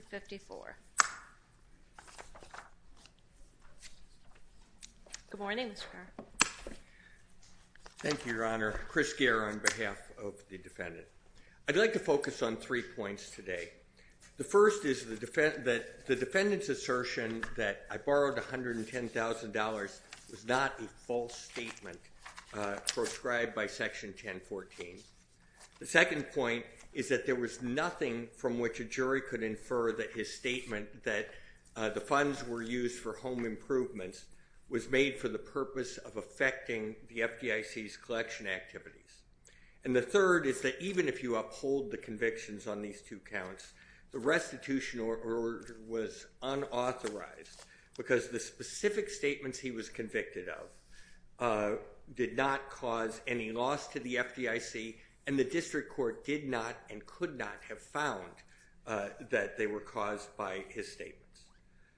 22-2254. Good morning, Mr. Kerr. Thank you, Your Honor. Chris Kerr on behalf of the defendant. I'd like to focus on three points today. The first is that the defendant's assertion that I borrowed $110,000 was not a false statement proscribed by Section 1014. The second point is that there was nothing from which a jury could infer that his statement that the funds were used for home improvements was made for the purpose of affecting the FDIC's collection activities. And the third is that even if you uphold the convictions on these two counts, the restitution order was unauthorized because the specific statements he was convicted of did not cause any loss to the FDIC, and the district court did not and could not have found that they were caused by his statements.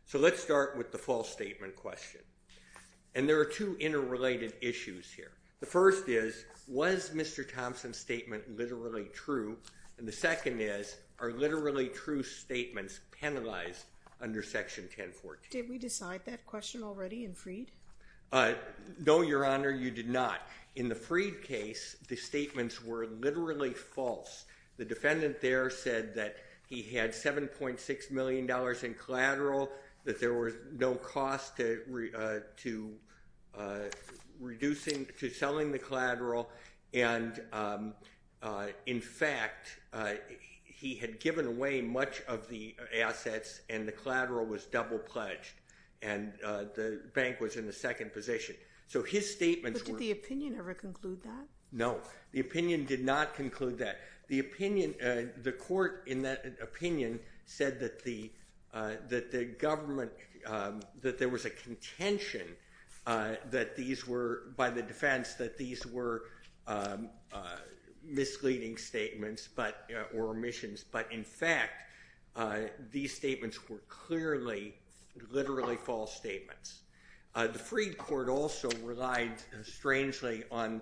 So let's start with the false statement question. And there are two interrelated issues here. The first is, was Mr. Thompson's statement literally true? And the second is, are literally true statements penalized under Section 1014? Did we decide that question already in Freed? No, Your Honor, you did not. In the Freed case, the statements were literally false. The defendant there said that he had $7.6 million in collateral, that there was no cost to selling the collateral, and in fact, he had given away much of the assets and the collateral was double-pledged and the bank was in the second position. So his statements were... But did the opinion ever conclude that? ...misleading statements or omissions, but in fact, these statements were clearly, literally false statements. The Freed court also relied, strangely, on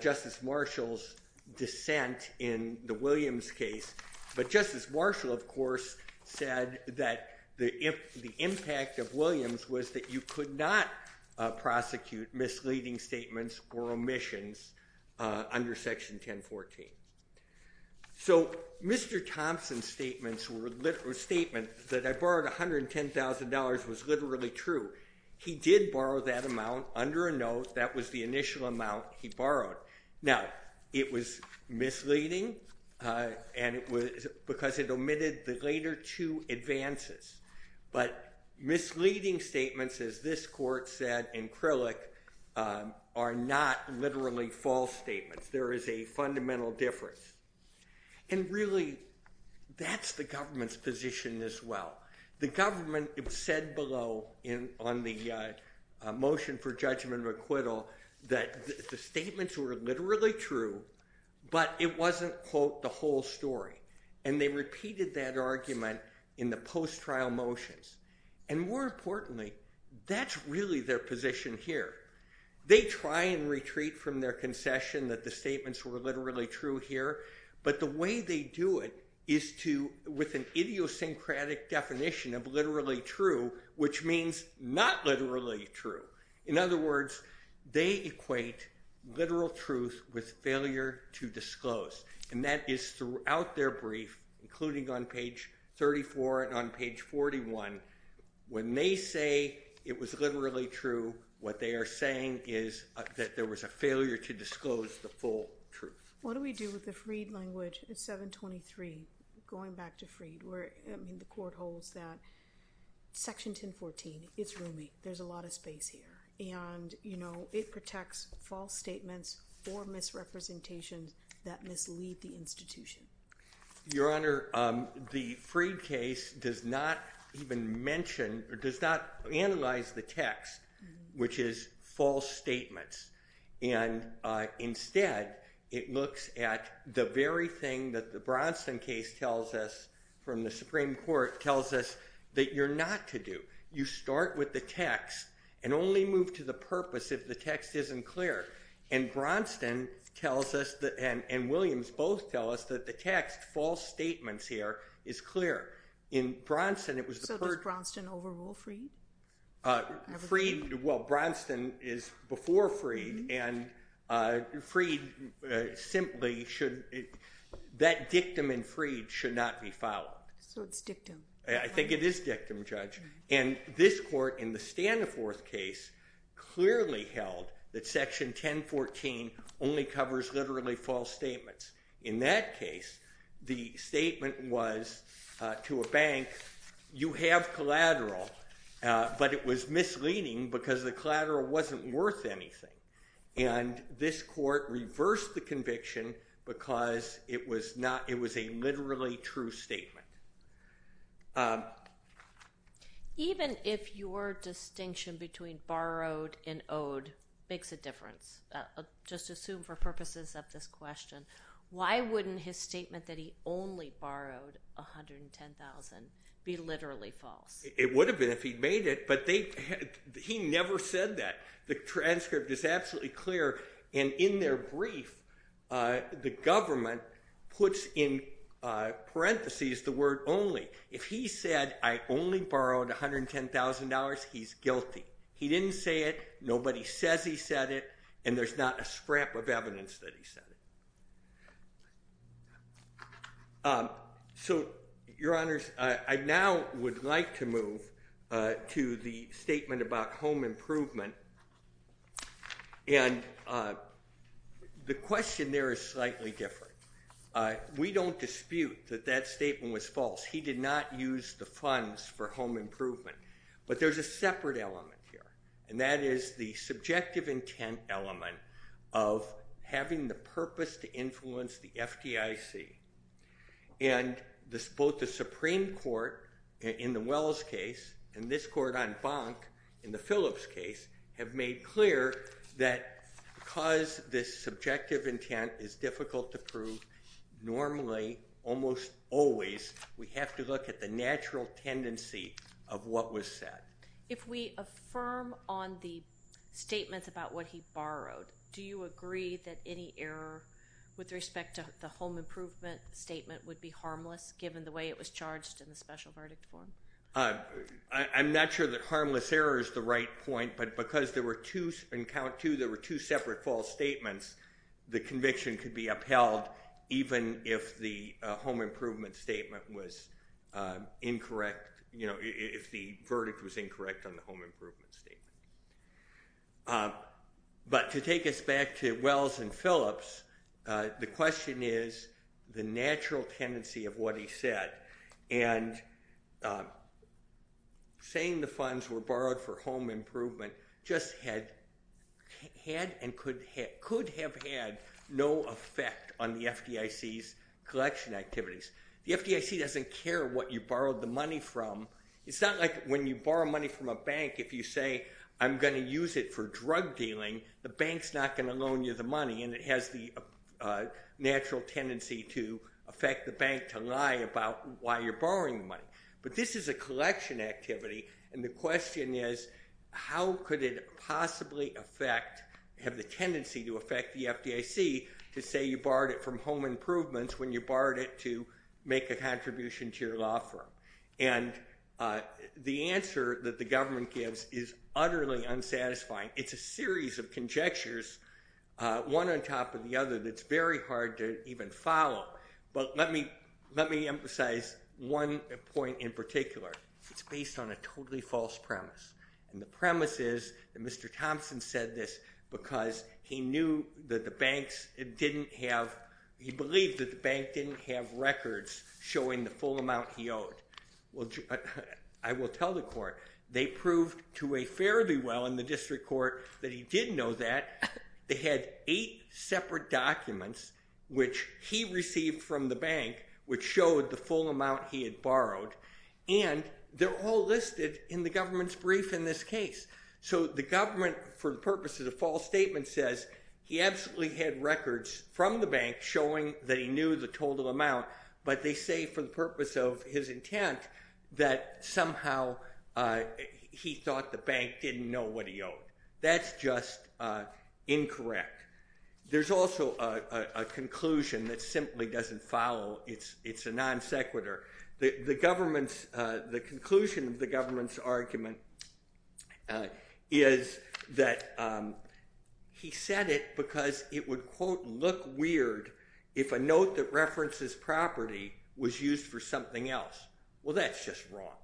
Justice Marshall's dissent in the Williams case, but Justice Marshall, of course, said that the impact of Williams was that you could not prosecute misleading statements or omissions under Section 1014. So Mr. Thompson's statement that I borrowed $110,000 was literally true. He did borrow that amount under a note. That was the initial amount he borrowed. Now, it was misleading because it omitted the later two advances, but misleading statements, as this court said in Krillick, are not literally false statements. There is a fundamental difference, and really, that's the government's position as well. The government said below on the motion for judgment of acquittal that the statements were literally true, but it wasn't, quote, the whole story, and they repeated that argument in the post-trial motions, and more importantly, that's really their position here. They try and retreat from their concession that the statements were literally true here, but the way they do it is with an idiosyncratic definition of literally true, which means not literally true. In other words, they equate literal truth with failure to disclose, and that is throughout their brief, including on page 34 and on page 41, when they say it was literally true, what they are saying is that there was a failure to disclose the full truth. What do we do with the Freed language, 723, going back to Freed, where the court holds that Section 1014 is roomy, there's a lot of space here, and it protects false statements or misrepresentations that mislead the institution. Your Honor, the Freed case does not even mention or does not analyze the text, which is false statements, and instead it looks at the very thing that the Bronson case tells us from the Supreme Court tells us that you're not to do. You start with the text and only move to the purpose if the text isn't clear. And Bronson tells us, and Williams both tell us, that the text, false statements here, is clear. So does Bronson overrule Freed? Well, Bronson is before Freed, and that dictum in Freed should not be followed. So it's dictum. I think it is dictum, Judge. And this court in the Standforth case clearly held that Section 1014 only covers literally false statements. In that case, the statement was to a bank, you have collateral, but it was misleading because the collateral wasn't worth anything. And this court reversed the conviction because it was a literally true statement. Even if your distinction between borrowed and owed makes a difference, just assume for purposes of this question, why wouldn't his statement that he only borrowed $110,000 be literally false? It would have been if he'd made it, but he never said that. The transcript is absolutely clear, and in their brief, the government puts in parentheses the word only. If he said, I only borrowed $110,000, he's guilty. He didn't say it, nobody says he said it, and there's not a scrap of evidence that he said it. So, Your Honors, I now would like to move to the statement about home improvement, and the question there is slightly different. We don't dispute that that statement was false. He did not use the funds for home improvement, but there's a separate element here, and that is the subjective intent element of having the purpose to influence the FDIC. And both the Supreme Court in the Wells case and this court on Bonk in the Phillips case have made clear that because this subjective intent is difficult to prove, normally, almost always, we have to look at the natural tendency of what was said. If we affirm on the statement about what he borrowed, do you agree that any error with respect to the home improvement statement would be harmless, given the way it was charged in the special verdict form? I'm not sure that harmless error is the right point, but because there were two separate false statements, the conviction could be upheld even if the home improvement statement was incorrect, you know, if the verdict was incorrect on the home improvement statement. But to take us back to Wells and Phillips, the question is the natural tendency of what he said, and saying the funds were borrowed for home improvement just had and could have had no effect on the FDIC's collection activities. The FDIC doesn't care what you borrowed the money from. It's not like when you borrow money from a bank, if you say I'm going to use it for drug dealing, the bank's not going to loan you the money, and it has the natural tendency to affect the bank to lie about why you're borrowing money. But this is a collection activity, and the question is how could it possibly have the tendency to affect the FDIC to say you borrowed it from home improvements when you borrowed it to make a contribution to your law firm? And the answer that the government gives is utterly unsatisfying. It's a series of conjectures, one on top of the other, that's very hard to even follow. But let me emphasize one point in particular. It's based on a totally false premise, and the premise is that Mr. Thompson said this because he believed that the bank didn't have records showing the full amount he owed. I will tell the court they proved to a fairly well in the district court that he did know that. They had eight separate documents which he received from the bank which showed the full amount he had borrowed, and they're all listed in the government's brief in this case. So the government, for the purposes of false statements, says he absolutely had records from the bank showing that he knew the total amount, but they say for the purpose of his intent that somehow he thought the bank didn't know what he owed. That's just incorrect. There's also a conclusion that simply doesn't follow. It's a non sequitur. The conclusion of the government's argument is that he said it because it would, quote, look weird if a note that references property was used for something else. Well, that's just wrong,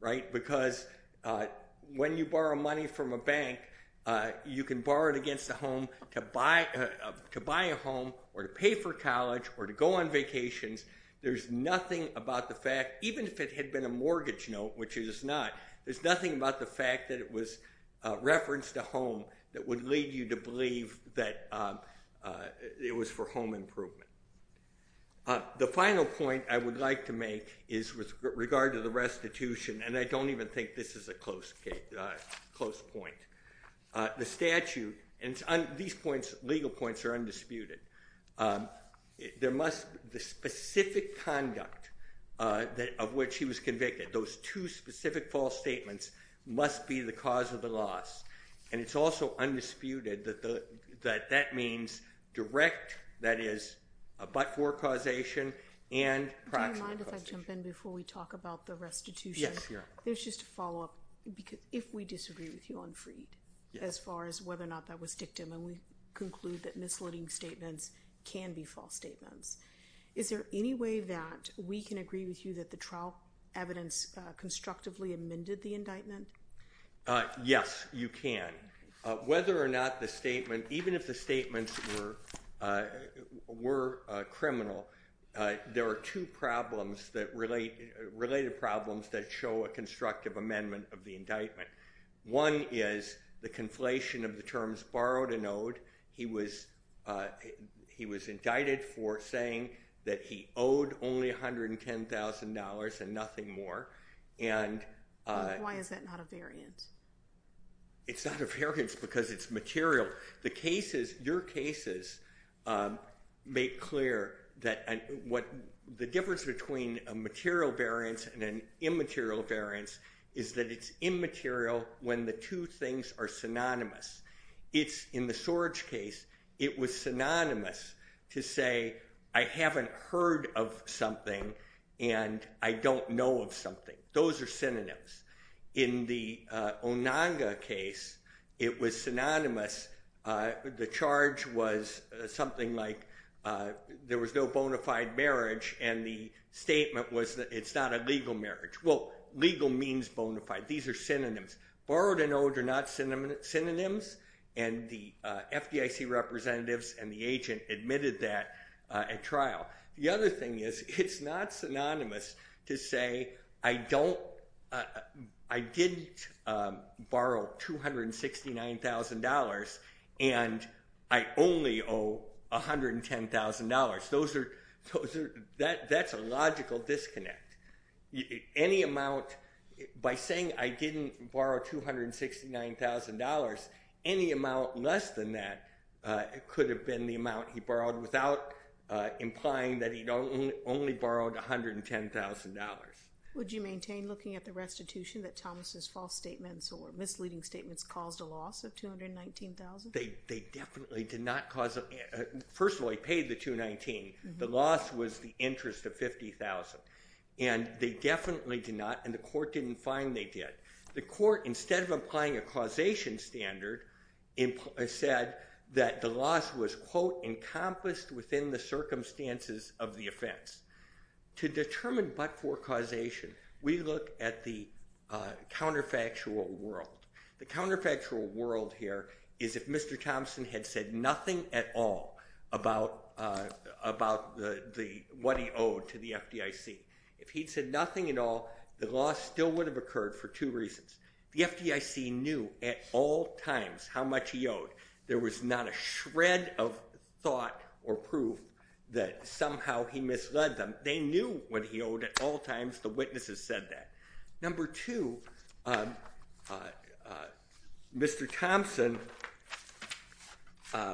right, because when you borrow money from a bank, you can borrow it against a home to buy a home or to pay for college or to go on vacations. There's nothing about the fact, even if it had been a mortgage note, which it is not, there's nothing about the fact that it was referenced a home that would lead you to believe that it was for home improvement. The final point I would like to make is with regard to the restitution, and I don't even think this is a close point. The statute, and these legal points are undisputed. The specific conduct of which he was convicted, those two specific false statements, must be the cause of the loss. And it's also undisputed that that means direct, that is, but-for causation and proximate causation. Do you mind if I jump in before we talk about the restitution? Yes, you're up. There's just a follow-up. If we disagree with you on Freed as far as whether or not that was dictum, and we conclude that misleading statements can be false statements, is there any way that we can agree with you that the trial evidence constructively amended the indictment? Yes, you can. Whether or not the statement, even if the statements were criminal, there are two problems that relate-related problems that show a constructive amendment of the indictment. One is the conflation of the terms borrowed and owed. He was-he was indicted for saying that he owed only $110,000 and nothing more, and- Why is that not a variance? It's not a variance because it's material. The cases-your cases make clear that what-the difference between a material variance and an immaterial variance is that it's immaterial when the two things are synonymous. It's-in the Sorge case, it was synonymous to say, I haven't heard of something and I don't know of something. Those are synonyms. In the Onanga case, it was synonymous. The charge was something like there was no bona fide marriage, and the statement was that it's not a legal marriage. Well, legal means bona fide. These are synonyms. Borrowed and owed are not synonyms, and the FDIC representatives and the agent admitted that at trial. The other thing is it's not synonymous to say, I don't-I did borrow $269,000 and I only owe $110,000. Those are-that's a logical disconnect. Any amount-by saying I didn't borrow $269,000, any amount less than that could have been the amount he borrowed without implying that he only borrowed $110,000. Would you maintain looking at the restitution that Thomas' false statements or misleading statements caused a loss of $219,000? They definitely did not cause a-first of all, they paid the $219,000. The loss was the interest of $50,000, and they definitely did not, and the court didn't find they did. The court, instead of applying a causation standard, said that the loss was, quote, encompassed within the circumstances of the offense. To determine but-for causation, we look at the counterfactual world. The counterfactual world here is if Mr. Thompson had said nothing at all about the-what he owed to the FDIC. If he'd said nothing at all, the loss still would have occurred for two reasons. The FDIC knew at all times how much he owed. There was not a shred of thought or proof that somehow he misled them. They knew what he owed at all times. The witnesses said that. Number two, Mr. Thompson-the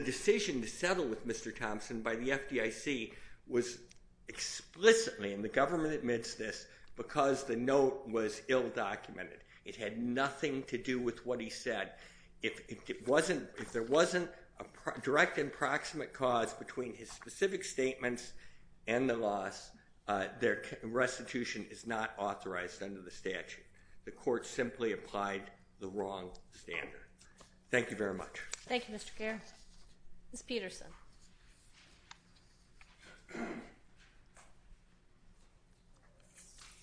decision to settle with Mr. Thompson by the FDIC was explicitly, and the government admits this, because the note was ill-documented. It had nothing to do with what he said. If it wasn't-if there wasn't a direct and proximate cause between his specific statements and the loss, their restitution is not authorized under the statute. The court simply applied the wrong standard. Thank you very much. Thank you, Mr. Kerr. Ms. Peterson.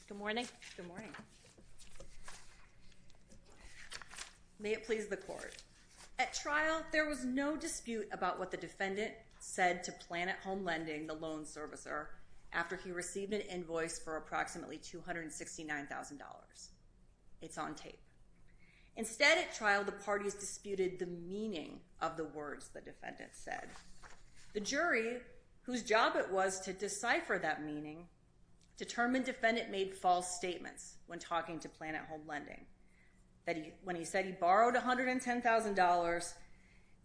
Good morning. May it please the court. At trial, there was no dispute about what the defendant said to Planet Home Lending, the loan servicer, after he received an invoice for approximately $269,000. It's on tape. Instead, at trial, the parties disputed the meaning of the words the defendant said. The jury, whose job it was to decipher that meaning, determined defendant made false statements when talking to Planet Home Lending, that he-when he said he borrowed $110,000,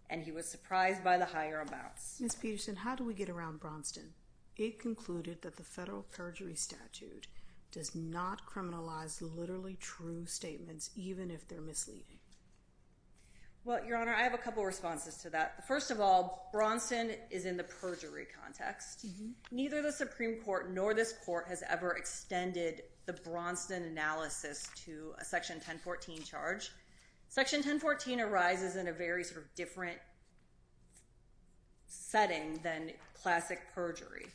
and he was surprised by the higher amounts. Ms. Peterson, how do we get around Braunston? It concluded that the federal perjury statute does not criminalize literally true statements, even if they're misleading. Well, Your Honor, I have a couple responses to that. First of all, Braunston is in the perjury context. Neither the Supreme Court nor this court has ever extended the Braunston analysis to a Section 1014 charge. Section 1014 arises in a very sort of different setting than classic perjury.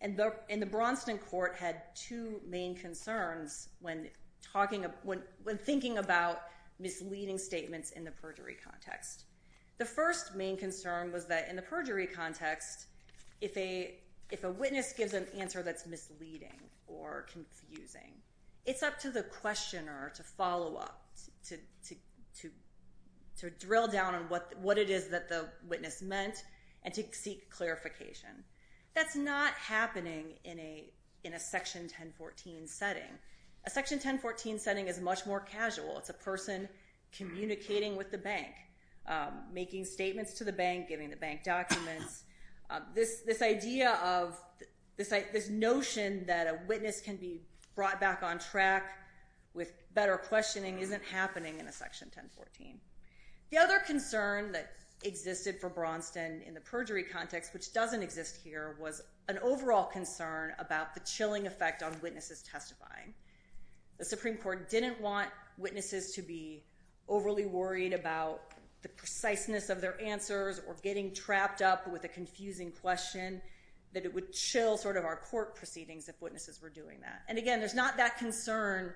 And the Braunston court had two main concerns when talking about-when thinking about misleading statements in the perjury context. The first main concern was that in the perjury context, if a witness gives an answer that's misleading or confusing, it's up to the questioner to follow up, to drill down on what it is that the witness meant and to seek clarification. That's not happening in a Section 1014 setting. A Section 1014 setting is much more casual. It's a person communicating with the bank, making statements to the bank, giving the bank documents. This idea of-this notion that a witness can be brought back on track with better questioning isn't happening in a Section 1014. The other concern that existed for Braunston in the perjury context, which doesn't exist here, was an overall concern about the chilling effect on witnesses testifying. The Supreme Court didn't want witnesses to be overly worried about the preciseness of their answers or getting trapped up with a confusing question, that it would chill sort of our court proceedings if witnesses were doing that. And again, there's not that concern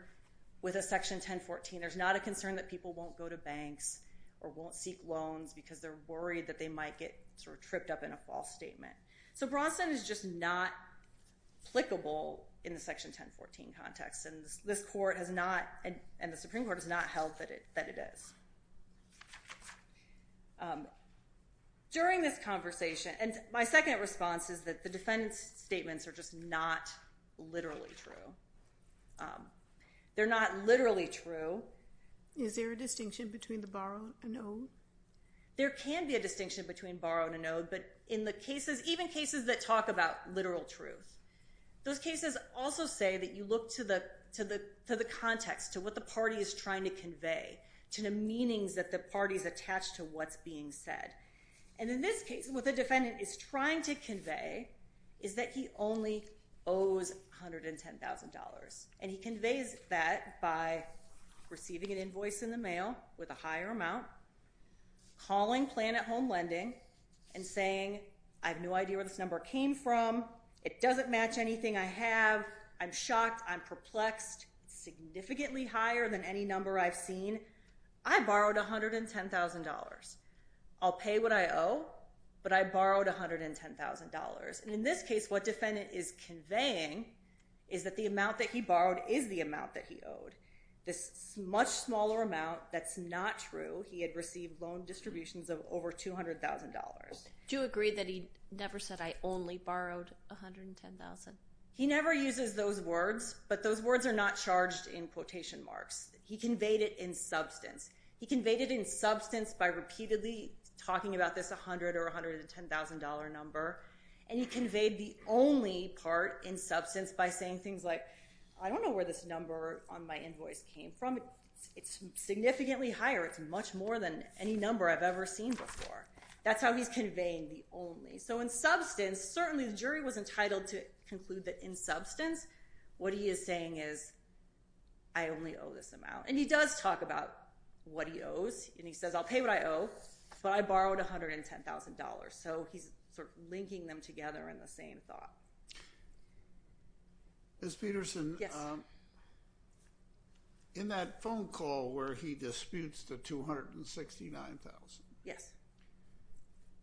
with a Section 1014. There's not a concern that people won't go to banks or won't seek loans because they're worried that they might get sort of tripped up in a false statement. So Braunston is just not applicable in the Section 1014 context. And this court has not-and the Supreme Court has not held that it is. During this conversation-and my second response is that the defendant's statements are just not literally true. They're not literally true. Is there a distinction between the borrow and the owe? There can be a distinction between borrow and an owe, but in the cases-even cases that talk about literal truth, those cases also say that you look to the context, to what the party is trying to convey, to the meanings that the party's attached to what's being said. And in this case, what the defendant is trying to convey is that he only owes $110,000. And he conveys that by receiving an invoice in the mail with a higher amount, calling plan at home lending and saying, I have no idea where this number came from. It doesn't match anything I have. I'm shocked. I'm perplexed. Significantly higher than any number I've seen. I borrowed $110,000. I'll pay what I owe, but I borrowed $110,000. And in this case, what defendant is conveying is that the amount that he borrowed is the amount that he owed. This much smaller amount, that's not true. He had received loan distributions of over $200,000. Do you agree that he never said, I only borrowed $110,000? He never uses those words, but those words are not charged in quotation marks. He conveyed it in substance. He conveyed it in substance by repeatedly talking about this $100,000 or $110,000 number. And he conveyed the only part in substance by saying things like, I don't know where this number on my invoice came from. It's significantly higher. It's much more than any number I've ever seen before. That's how he's conveying the only. So in substance, certainly the jury was entitled to conclude that in substance, what he is saying is, I only owe this amount. And he does talk about what he owes. And he says, I'll pay what I owe, but I borrowed $110,000. So he's sort of linking them together in the same thought. Ms. Peterson? Yes. In that phone call where he disputes the $269,000. Yes.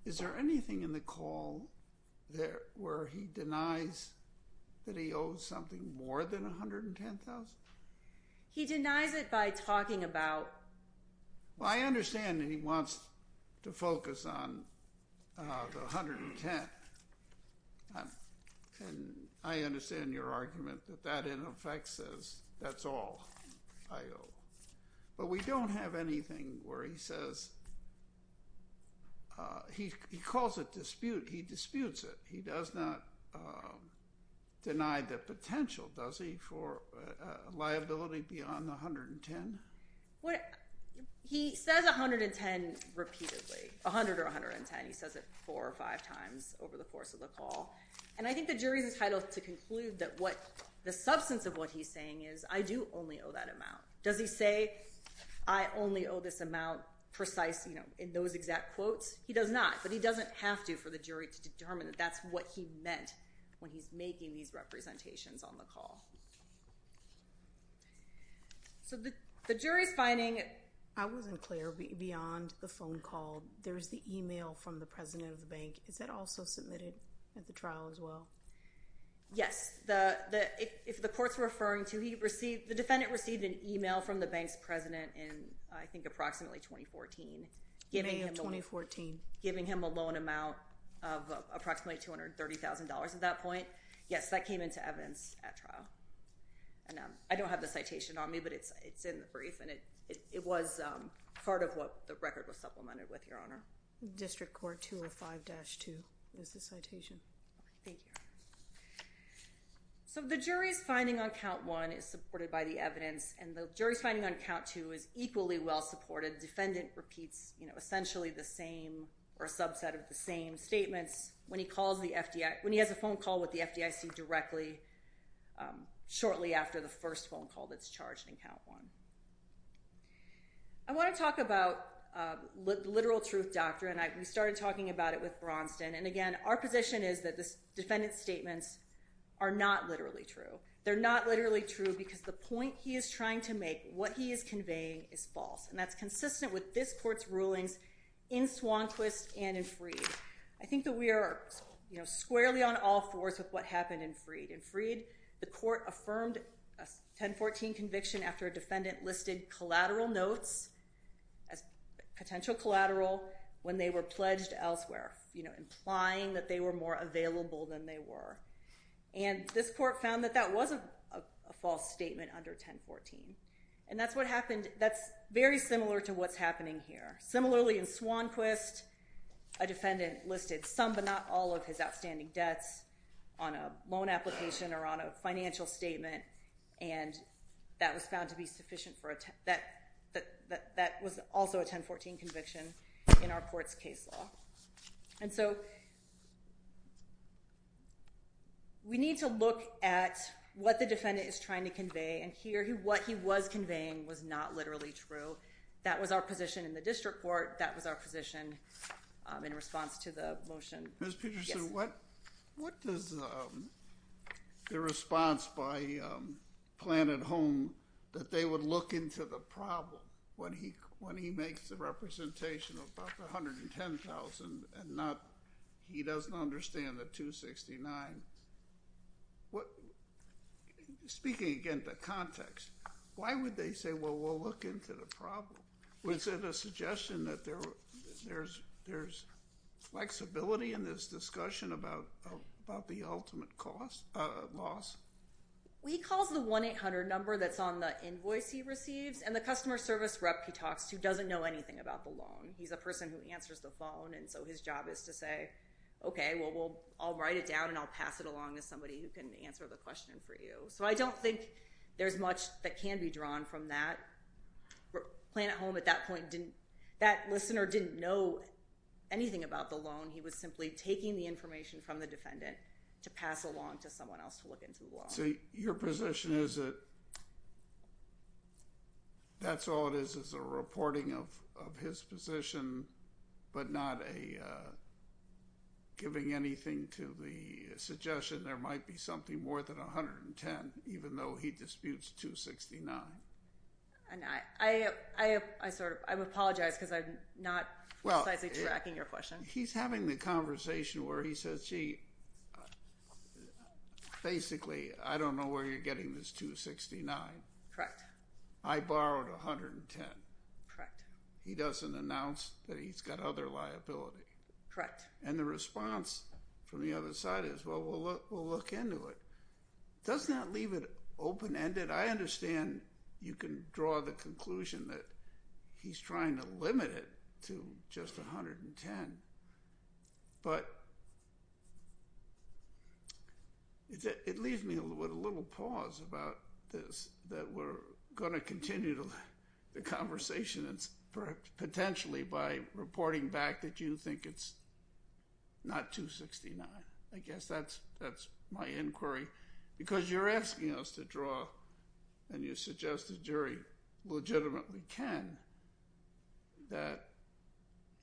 Is there anything in the call where he denies that he owes something more than $110,000? He denies it by talking about. Well, I understand that he wants to focus on the $110,000. And I understand your argument that that, in effect, says that's all I owe. But we don't have anything where he says. He calls it dispute. He disputes it. He does not deny the potential, does he? For liability beyond $110,000? He says $110,000 repeatedly, $100,000 or $110,000. He says it four or five times over the course of the call. And I think the jury is entitled to conclude that the substance of what he's saying is, I do only owe that amount. Does he say, I only owe this amount, precise, in those exact quotes? He does not. But he doesn't have to for the jury to determine that that's what he meant when he's making these representations on the call. So the jury's finding it. I wasn't clear beyond the phone call. There's the email from the president of the bank. Is that also submitted at the trial as well? Yes. If the court's referring to, the defendant received an email from the bank's president in, I think, approximately 2014. May of 2014. Giving him a loan amount of approximately $230,000 at that point. Yes, that came into evidence at trial. And I don't have the citation on me, but it's in the brief. And it was part of what the record was supplemented with, Your Honor. District Court 205-2 is the citation. Thank you. So the jury's finding on count one is supported by the evidence. And the jury's finding on count two is equally well supported. The defendant repeats essentially the same or a subset of the same statements when he has a phone call with the FDIC directly shortly after the first phone call that's charged in count one. I want to talk about literal truth doctrine. We started talking about it with Braunston. And, again, our position is that the defendant's statements are not literally true. They're not literally true because the point he is trying to make, what he is conveying, is false. And that's consistent with this court's rulings in Swanquist and in Freed. I think that we are squarely on all fours with what happened in Freed. In Freed, the court affirmed a 1014 conviction after a defendant listed collateral notes, potential collateral, when they were pledged elsewhere, implying that they were more available than they were. And this court found that that wasn't a false statement under 1014. And that's very similar to what's happening here. Similarly, in Swanquist, a defendant listed some but not all of his outstanding debts on a loan application or on a financial statement, and that was found to be sufficient for a 1014 conviction in our court's case law. And so we need to look at what the defendant is trying to convey. And here, what he was conveying was not literally true. That was our position in the district court. That was our position in response to the motion. Ms. Peterson, what does the response by Planned Home that they would look into the problem when he makes the representation of about $110,000 and he doesn't understand the $269,000? Speaking again to context, why would they say, well, we'll look into the problem? Was it a suggestion that there's flexibility in this discussion about the ultimate loss? He calls the 1-800 number that's on the invoice he receives, and the customer service rep he talks to doesn't know anything about the loan. He's a person who answers the phone, and so his job is to say, okay, well, I'll write it down and I'll pass it along to somebody who can answer the question for you. So I don't think there's much that can be drawn from that. Planned Home, at that point, that listener didn't know anything about the loan. He was simply taking the information from the defendant to pass along to someone else to look into the loan. So your position is that that's all it is, is a reporting of his position, but not giving anything to the suggestion there might be something more than $110,000, even though he disputes $269,000. I apologize because I'm not precisely tracking your question. He's having the conversation where he says, gee, basically, I don't know where you're getting this $269,000. Correct. I borrowed $110,000. Correct. He doesn't announce that he's got other liability. Correct. And the response from the other side is, well, we'll look into it. Does that leave it open-ended? I understand you can draw the conclusion that he's trying to limit it to just $110,000, but it leaves me with a little pause about this, that we're going to continue the conversation potentially by reporting back that you think it's not $269,000. I guess that's my inquiry because you're asking us to draw and you suggest the jury legitimately can that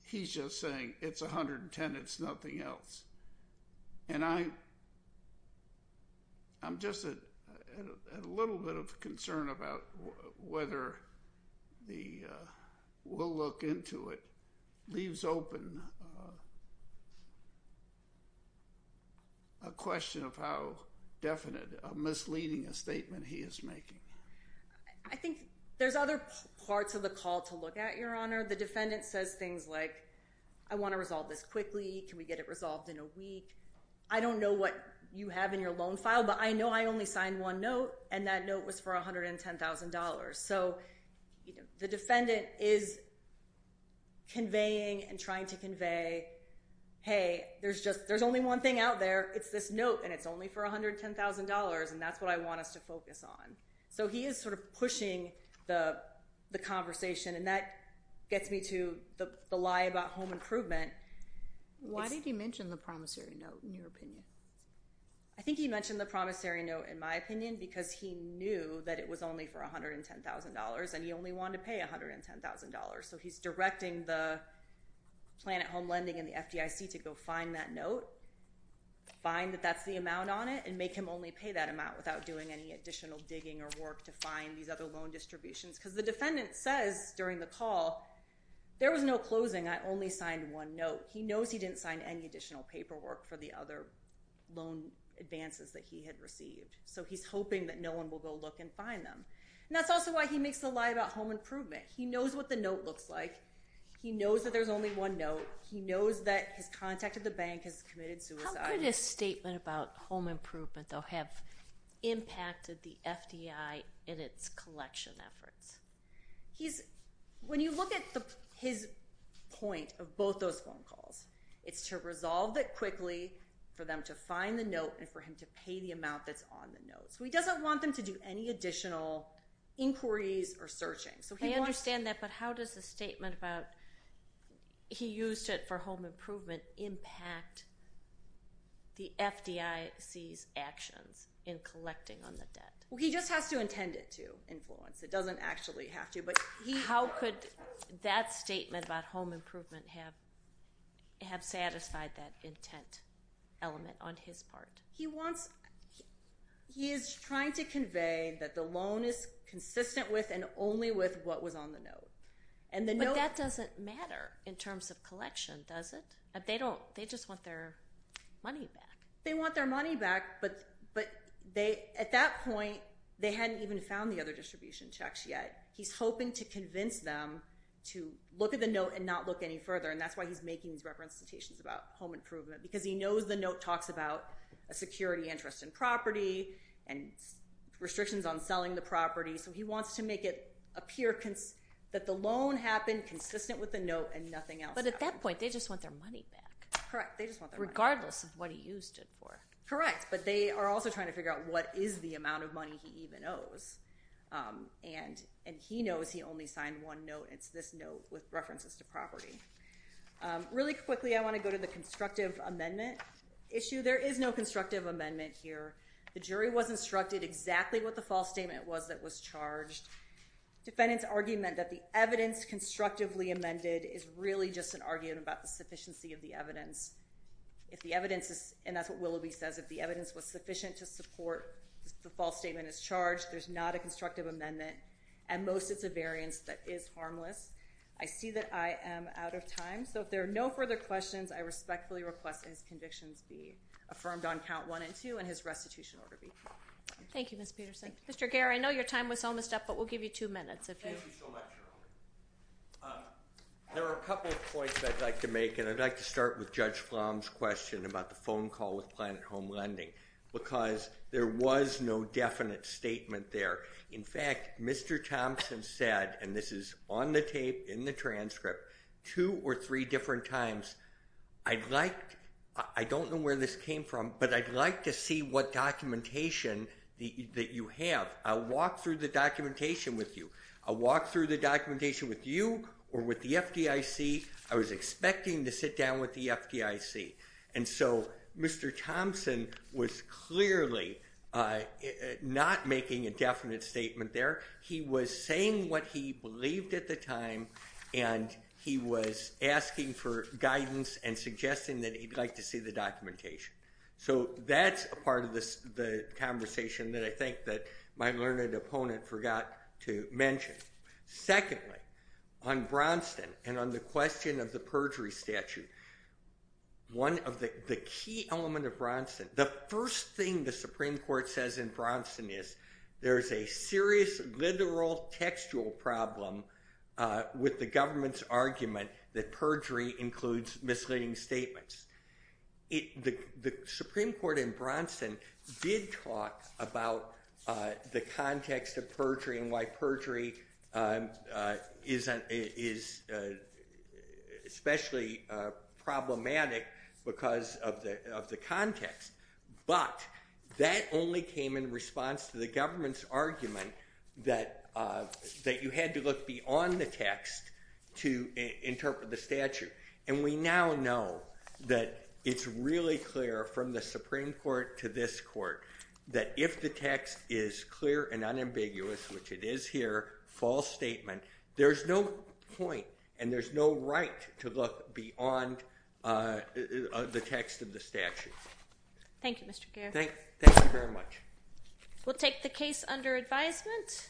he's just saying it's $110,000, it's nothing else. And I'm just a little bit of concern about whether the we'll look into it leaves open a question of how definite, misleading a statement he is making. I think there's other parts of the call to look at, Your Honor. The defendant says things like, I want to resolve this quickly. Can we get it resolved in a week? I don't know what you have in your loan file, but I know I only signed one note, and that note was for $110,000. So the defendant is conveying and trying to convey, hey, there's only one thing out there. It's this note, and it's only for $110,000, and that's what I want us to focus on. So he is sort of pushing the conversation, and that gets me to the lie about home improvement. Why did he mention the promissory note in your opinion? I think he mentioned the promissory note in my opinion because he knew that it was only for $110,000, and he only wanted to pay $110,000. So he's directing the plan at home lending and the FDIC to go find that note, find that that's the amount on it, and make him only pay that amount without doing any additional digging or work to find these other loan distributions because the defendant says during the call, there was no closing. I only signed one note. He knows he didn't sign any additional paperwork for the other loan advances that he had received, so he's hoping that no one will go look and find them, and that's also why he makes the lie about home improvement. He knows what the note looks like. He knows that there's only one note. He knows that his contact at the bank has committed suicide. How could his statement about home improvement, though, have impacted the FDI in its collection efforts? When you look at his point of both those phone calls, it's to resolve it quickly for them to find the note and for him to pay the amount that's on the note. So he doesn't want them to do any additional inquiries or searching. I understand that, but how does the statement about he used it for home improvement impact the FDIC's actions in collecting on the debt? He just has to intend it to influence. It doesn't actually have to. How could that statement about home improvement have satisfied that intent element on his part? He is trying to convey that the loan is consistent with and only with what was on the note. But that doesn't matter in terms of collection, does it? They just want their money back. They want their money back, but at that point, they hadn't even found the other distribution checks yet. He's hoping to convince them to look at the note and not look any further, and that's why he's making these reference citations about home improvement, because he knows the note talks about a security interest in property and restrictions on selling the property. So he wants to make it appear that the loan happened consistent with the note and nothing else happened. But at that point, they just want their money back. Correct. They just want their money back. Regardless of what he used it for. Correct, but they are also trying to figure out what is the amount of money he even owes, and he knows he only signed one note, and it's this note with references to property. Really quickly, I want to go to the constructive amendment issue. There is no constructive amendment here. The jury was instructed exactly what the false statement was that was charged. Defendant's argument that the evidence constructively amended is really just an argument about the sufficiency of the evidence. If the evidence is, and that's what Willoughby says, if the evidence was sufficient to support the false statement as charged, there's not a constructive amendment. At most, it's a variance that is harmless. I see that I am out of time, so if there are no further questions, I respectfully request his convictions be affirmed on count one and two and his restitution order be confirmed. Thank you, Ms. Peterson. Mr. Gehr, I know your time was almost up, but we'll give you two minutes. Thank you so much, Shirley. There are a couple of points that I'd like to make, and I'd like to start with Judge Flom's question about the phone call with Planet Home Lending, because there was no definite statement there. In fact, Mr. Thompson said, and this is on the tape, in the transcript, two or three different times, I don't know where this came from, but I'd like to see what documentation that you have. I'll walk through the documentation with you. I'll walk through the documentation with you or with the FDIC. I was expecting to sit down with the FDIC, and so Mr. Thompson was clearly not making a definite statement there. He was saying what he believed at the time, and he was asking for guidance and suggesting that he'd like to see the documentation. So that's a part of the conversation that I think that my learned opponent forgot to mention. Secondly, on Bronson and on the question of the perjury statute, one of the key elements of Bronson, the first thing the Supreme Court says in Bronson is there is a serious literal textual problem with the government's argument that perjury includes misleading statements. The Supreme Court in Bronson did talk about the context of perjury and why perjury is especially problematic because of the context, but that only came in response to the government's argument that you had to look beyond the text to interpret the statute. And we now know that it's really clear from the Supreme Court to this court that if the text is clear and unambiguous, which it is here, false statement, there's no point and there's no right to look beyond the text of the statute. Thank you, Mr. Garrett. Thank you very much. We'll take the case under advisement.